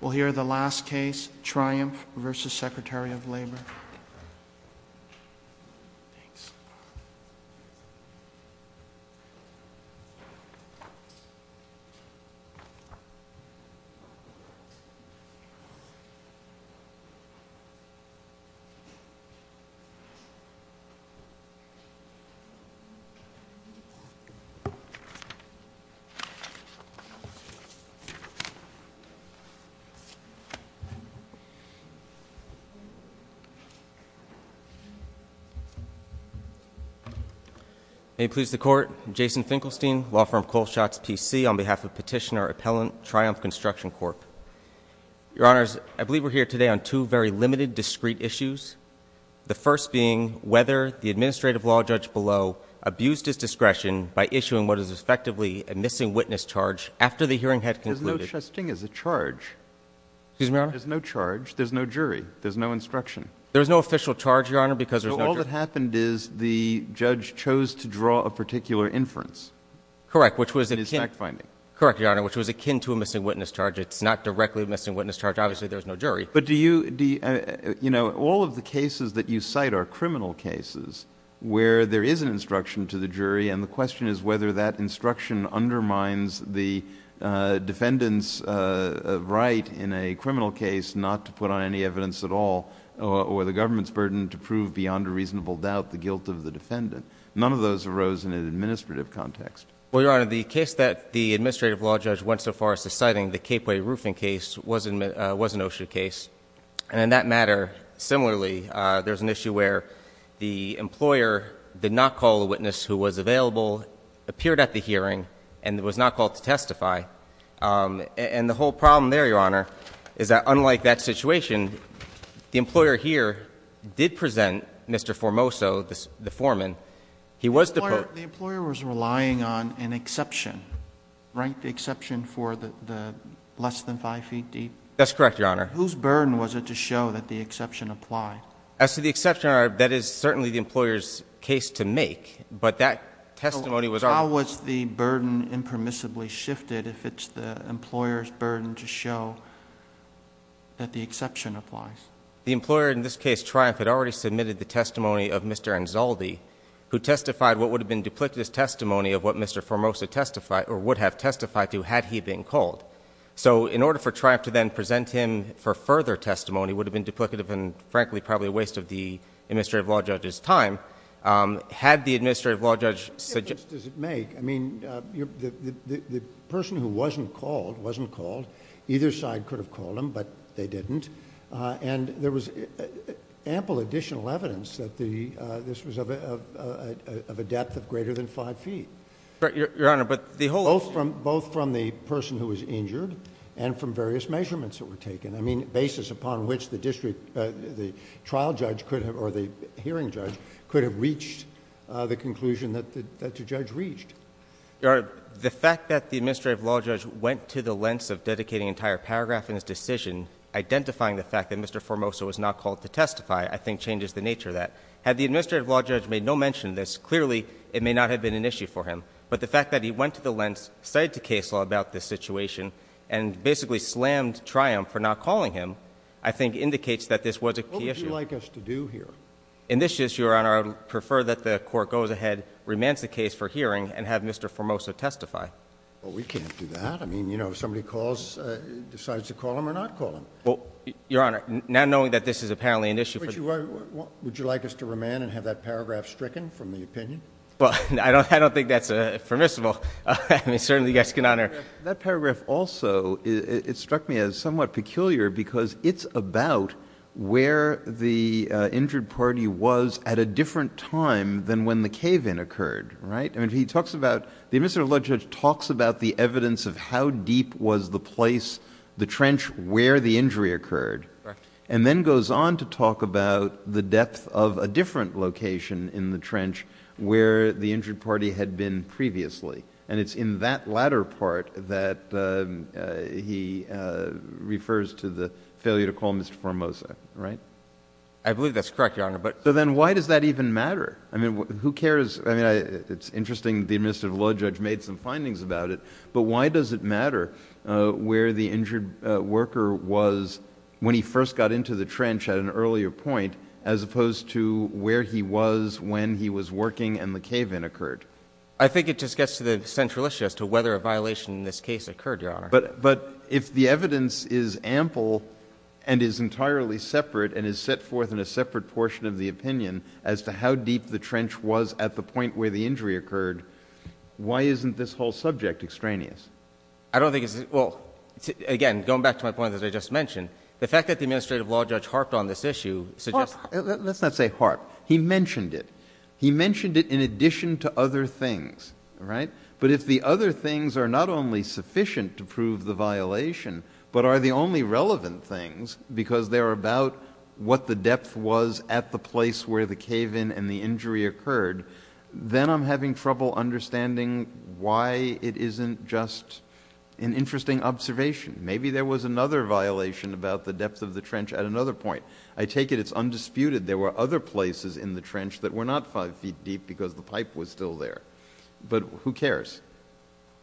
We'll hear the last case, Triumph v. Secretary of Labor. May it please the Court, I'm Jason Finkelstein, law firm Coleshots, PC, on behalf of Petitioner Appellant Triumph Construction Corp. Your Honors, I believe we're here today on two very limited, discrete issues. The first being whether the administrative law judge below abused his discretion by issuing what is effectively a missing witness charge after the hearing had concluded. There's no charge. There's a charge. Excuse me, Your Honor? There's no charge. There's no jury. There's no instruction. There's no official charge, Your Honor, because there's no jury. So all that happened is the judge chose to draw a particular inference. Correct, which was akin to a missing witness charge. It's not directly a missing witness charge. Obviously there's no jury. But do you, you know, all of the cases that you cite are criminal cases where there is an instruction to the jury, and the question is whether that instruction undermines the defendant's right in a criminal case not to put on any evidence at all, or the government's burden to prove beyond a reasonable doubt the guilt of the defendant. None of those arose in an administrative context. Well, Your Honor, the case that the administrative law judge went so far as to citing, the Capeway Roofing case, was an OSHA case, and in that matter, similarly, there's an issue where the employer did not call the witness who was available, appeared at the hearing, and was not called to testify. And the whole problem there, Your Honor, is that unlike that situation, the employer here did present Mr. Formoso, the foreman. He was the— The employer was relying on an exception, right, the exception for the less than five feet deep? That's correct, Your Honor. Whose burden was it to show that the exception applied? As to the exception, Your Honor, that is certainly the employer's case to make, but that testimony was— But how was the burden impermissibly shifted if it's the employer's burden to show that the exception applies? The employer in this case, Triumph, had already submitted the testimony of Mr. Anzaldi, who testified what would have been duplicitous testimony of what Mr. Formoso testified, or would have testified to, had he been called. So in order for Triumph to then present him for further testimony would have been duplicative and, frankly, probably a waste of the administrative law judge's time. Had the administrative law judge— What difference does it make? I mean, the person who wasn't called, either side could have called him, but they didn't, and there was ample additional evidence that this was of a depth of greater than five feet. Right, Your Honor, but the whole— Both from the person who was injured and from various measurements that were taken. I mean, basis upon which the district, the trial judge could have, or the hearing judge, could have reached the conclusion that the judge reached. Your Honor, the fact that the administrative law judge went to the lengths of dedicating an entire paragraph in his decision, identifying the fact that Mr. Formoso was not called to testify, I think changes the nature of that. Had the administrative law judge made no mention of this, clearly it may not have been an issue for him. But the fact that he went to the lengths, cited the case law about this situation, and basically slammed Triumph for not calling him, I think indicates that this was a key issue. What would you like us to do here? In this issue, Your Honor, I would prefer that the Court goes ahead, remands the case for hearing, and have Mr. Formoso testify. Well, we can't do that. I mean, you know, if somebody calls, decides to call him or not call him. Well, Your Honor, now knowing that this is apparently an issue for— Would you like us to remand and have that paragraph stricken from the opinion? Well, I don't think that's permissible. I mean, certainly you guys can honor— That paragraph also, it struck me as somewhat peculiar because it's about where the injured party was at a different time than when the cave-in occurred, right? I mean, he talks about—the administrative law judge talks about the evidence of how deep was the place, the trench, where the injury occurred, and then goes on to talk about the depth of a different location in the trench where the injured party had been previously. And it's in that latter part that he refers to the failure to call Mr. Formoso, right? I believe that's correct, Your Honor, but— So then why does that even matter? I mean, who cares? I mean, it's interesting the administrative law judge made some findings about it, but why does it matter where the injured worker was when he first got into the trench at an earlier point as opposed to where he was when he was working and the cave-in occurred? I think it just gets to the central issue as to whether a violation in this case occurred, Your Honor. But if the evidence is ample and is entirely separate and is set forth in a separate portion of the opinion as to how deep the trench was at the point where the injury occurred, why isn't this whole subject extraneous? I don't think it's—well, again, going back to my point that I just mentioned, the fact that the administrative law judge harped on this issue suggests— Well, let's not say harped. He mentioned it. He mentioned it in addition to other things, all right? But if the other things are not only sufficient to prove the violation but are the only relevant things because they're about what the depth was at the place where the cave-in and the injury occurred, then I'm having trouble understanding why it isn't just an interesting observation. Maybe there was another violation about the depth of the trench at another point. I take it it's undisputed there were other places in the trench that were not five feet deep because the pipe was still there. But who cares?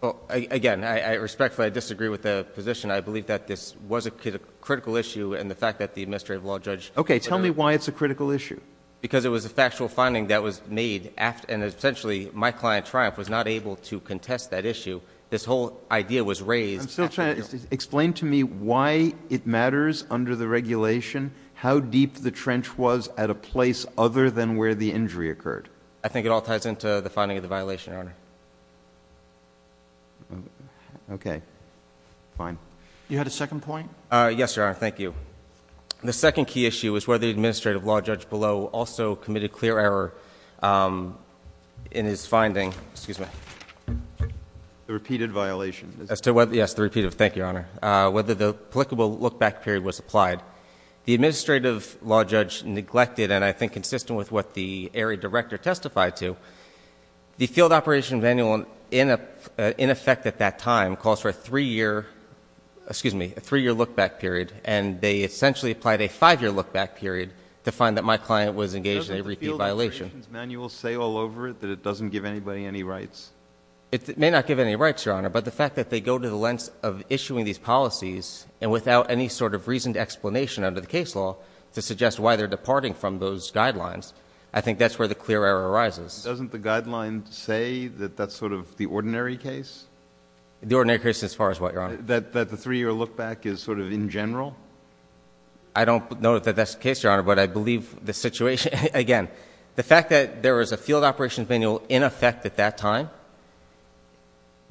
Well, again, respectfully, I disagree with the position. I believe that this was a critical issue and the fact that the administrative law judge — Okay. Tell me why it's a critical issue. Because it was a factual finding that was made and, essentially, my client, Triumph, was not able to contest that issue. This whole idea was raised— I'm still trying to—explain to me why it matters under the regulation how deep the trench was at a place other than where the injury occurred. I think it all ties into the finding of the violation, Your Honor. Okay. Fine. You had a second point? Yes, Your Honor. Thank you. The second key issue is whether the administrative law judge below also committed clear error in his finding—excuse me. The repeated violation. Yes, the repeated—thank you, Your Honor—whether the applicable look-back period was applied. The administrative law judge neglected and, I think, consistent with what the area director testified to. The field operation manual, in effect at that time, calls for a three-year look-back period and they essentially applied a five-year look-back period to find that my client was engaged in a repeated violation. Doesn't the field operations manual say all over it that it doesn't give anybody any rights? It may not give any rights, Your Honor, but the fact that they go to the lengths of issuing these policies and without any sort of reasoned explanation under the case law to suggest why they're departing from those guidelines, I think that's where the clear error arises. Doesn't the guideline say that that's sort of the ordinary case? The ordinary case as far as what, Your Honor? That the three-year look-back is sort of in general? I don't know that that's the case, Your Honor, but I believe the situation—again, the fact that there was a field operations manual in effect at that time,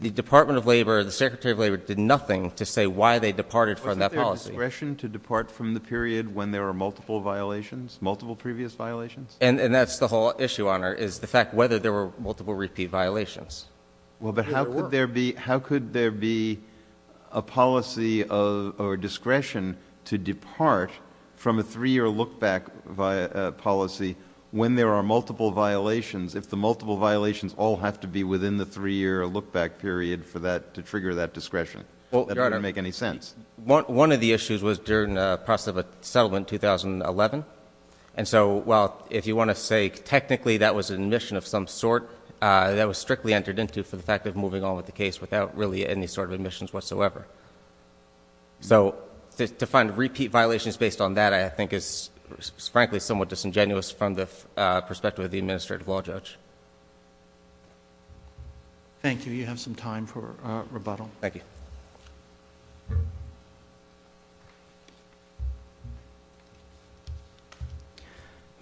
the Department of Labor, the Secretary of Labor did nothing to say why they departed from that policy. Is there discretion to depart from the period when there are multiple violations, multiple previous violations? And that's the whole issue, Your Honor, is the fact whether there were multiple repeat violations. Well, but how could there be a policy of discretion to depart from a three-year look-back policy when there are multiple violations if the multiple violations all have to be within the three-year look-back period for that to trigger that discretion? Well, Your Honor— That doesn't make any sense. One of the issues was during the process of a settlement in 2011, and so while if you want to say technically that was an admission of some sort, that was strictly entered into for the fact of moving on with the case without really any sort of admissions whatsoever. So to find repeat violations based on that, I think, is frankly somewhat disingenuous from the perspective of the administrative law judge. Thank you. You have some time for rebuttal. Thank you.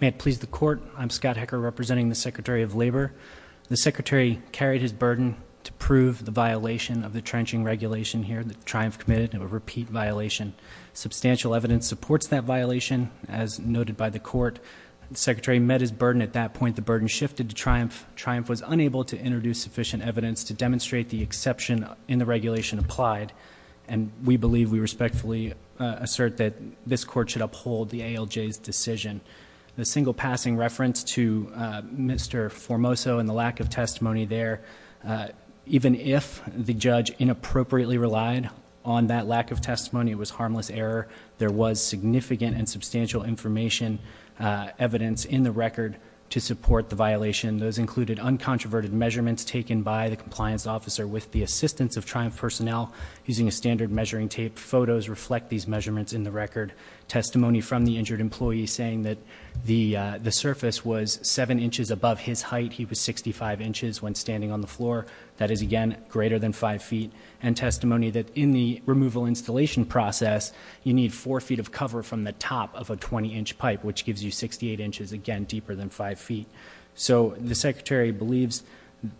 May it please the Court, I'm Scott Hecker, representing the Secretary of Labor. The Secretary carried his burden to prove the violation of the trenching regulation here that Triumph committed of a repeat violation. Substantial evidence supports that violation, as noted by the Court. The Secretary met his burden at that point. The burden shifted to Triumph. Triumph was unable to introduce sufficient evidence to demonstrate the exception in the regulation applied, and we believe we respectfully assert that this court should uphold the ALJ's decision. The single passing reference to Mr. Formoso and the lack of testimony there, even if the judge inappropriately relied on that lack of testimony, it was harmless error. There was significant and substantial information, evidence in the record to support the violation. Those included uncontroverted measurements taken by the compliance officer with the assistance of Triumph personnel using a standard measuring tape. Photos reflect these measurements in the record. Testimony from the injured employee saying that the surface was seven inches above his height. He was 65 inches when standing on the floor. That is again, greater than five feet. And testimony that in the removal installation process, you need four feet of cover from the top of a 20 inch pipe, which gives you 68 inches, again, deeper than five feet. So the secretary believes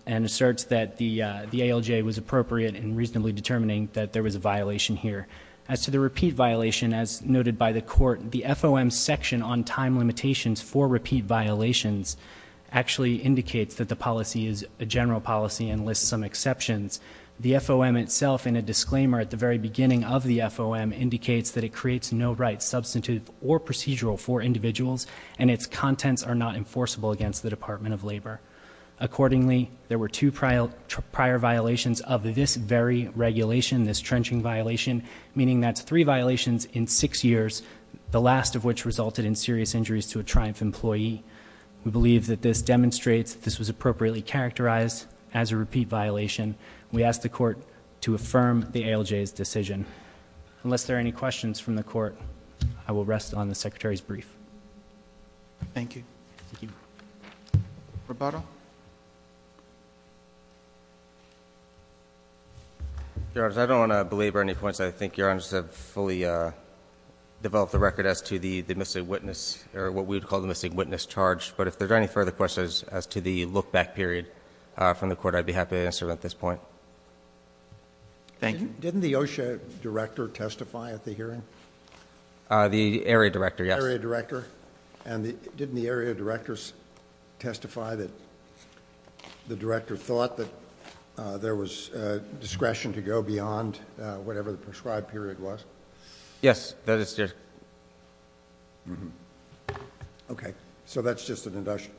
and asserts that the ALJ was appropriate in reasonably determining that there was a violation here. As to the repeat violation, as noted by the court, the FOM section on time limitations for repeat violations actually indicates that the policy is a general policy and lists some exceptions. The FOM itself in a disclaimer at the very beginning of the FOM indicates that it creates no right, substantive, or procedural for individuals, and its contents are not enforceable against the Department of Labor. Accordingly, there were two prior violations of this very regulation, this trenching violation, meaning that's three violations in six years, the last of which resulted in serious injuries to a Triumph employee. We believe that this demonstrates that this was appropriately characterized as a repeat violation. We ask the court to affirm the ALJ's decision. Unless there are any questions from the court, I will rest on the secretary's brief. Thank you. Roboto? Your Honor, I don't want to belabor any points. I think Your Honor has fully developed the record as to the missing witness, or what we would call the missing witness charge. But if there's any further questions as to the look back period from the court, I'd be happy to answer them at this point. Thank you. Didn't the OSHA director testify at the hearing? The area director, yes. Area director? And didn't the area director testify that the director thought that there was discretion to go beyond whatever the prescribed period was? Yes, that is. Okay, so that's just an induction.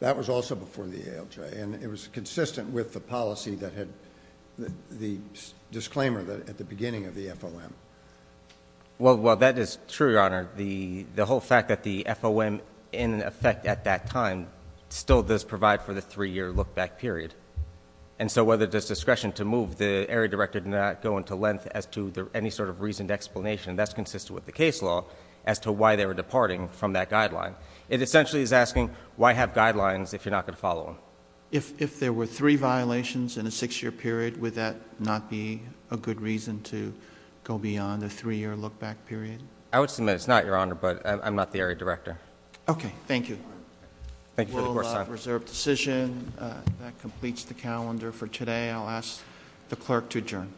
That was also before the ALJ, and it was consistent with the policy that had the disclaimer at the beginning of the FOM. Well, that is true, Your Honor. The whole fact that the FOM, in effect at that time, still does provide for the three year look back period. And so whether there's discretion to move, the area director did not go into length as to any sort of reasoned explanation. That's consistent with the case law as to why they were departing from that guideline. It essentially is asking, why have guidelines if you're not going to follow them? If there were three violations in a six year period, would that not be a good reason to go beyond a three year look back period? I would submit it's not, Your Honor, but I'm not the area director. Okay, thank you. We'll reserve decision. That completes the calendar for today. I'll ask the clerk to adjourn.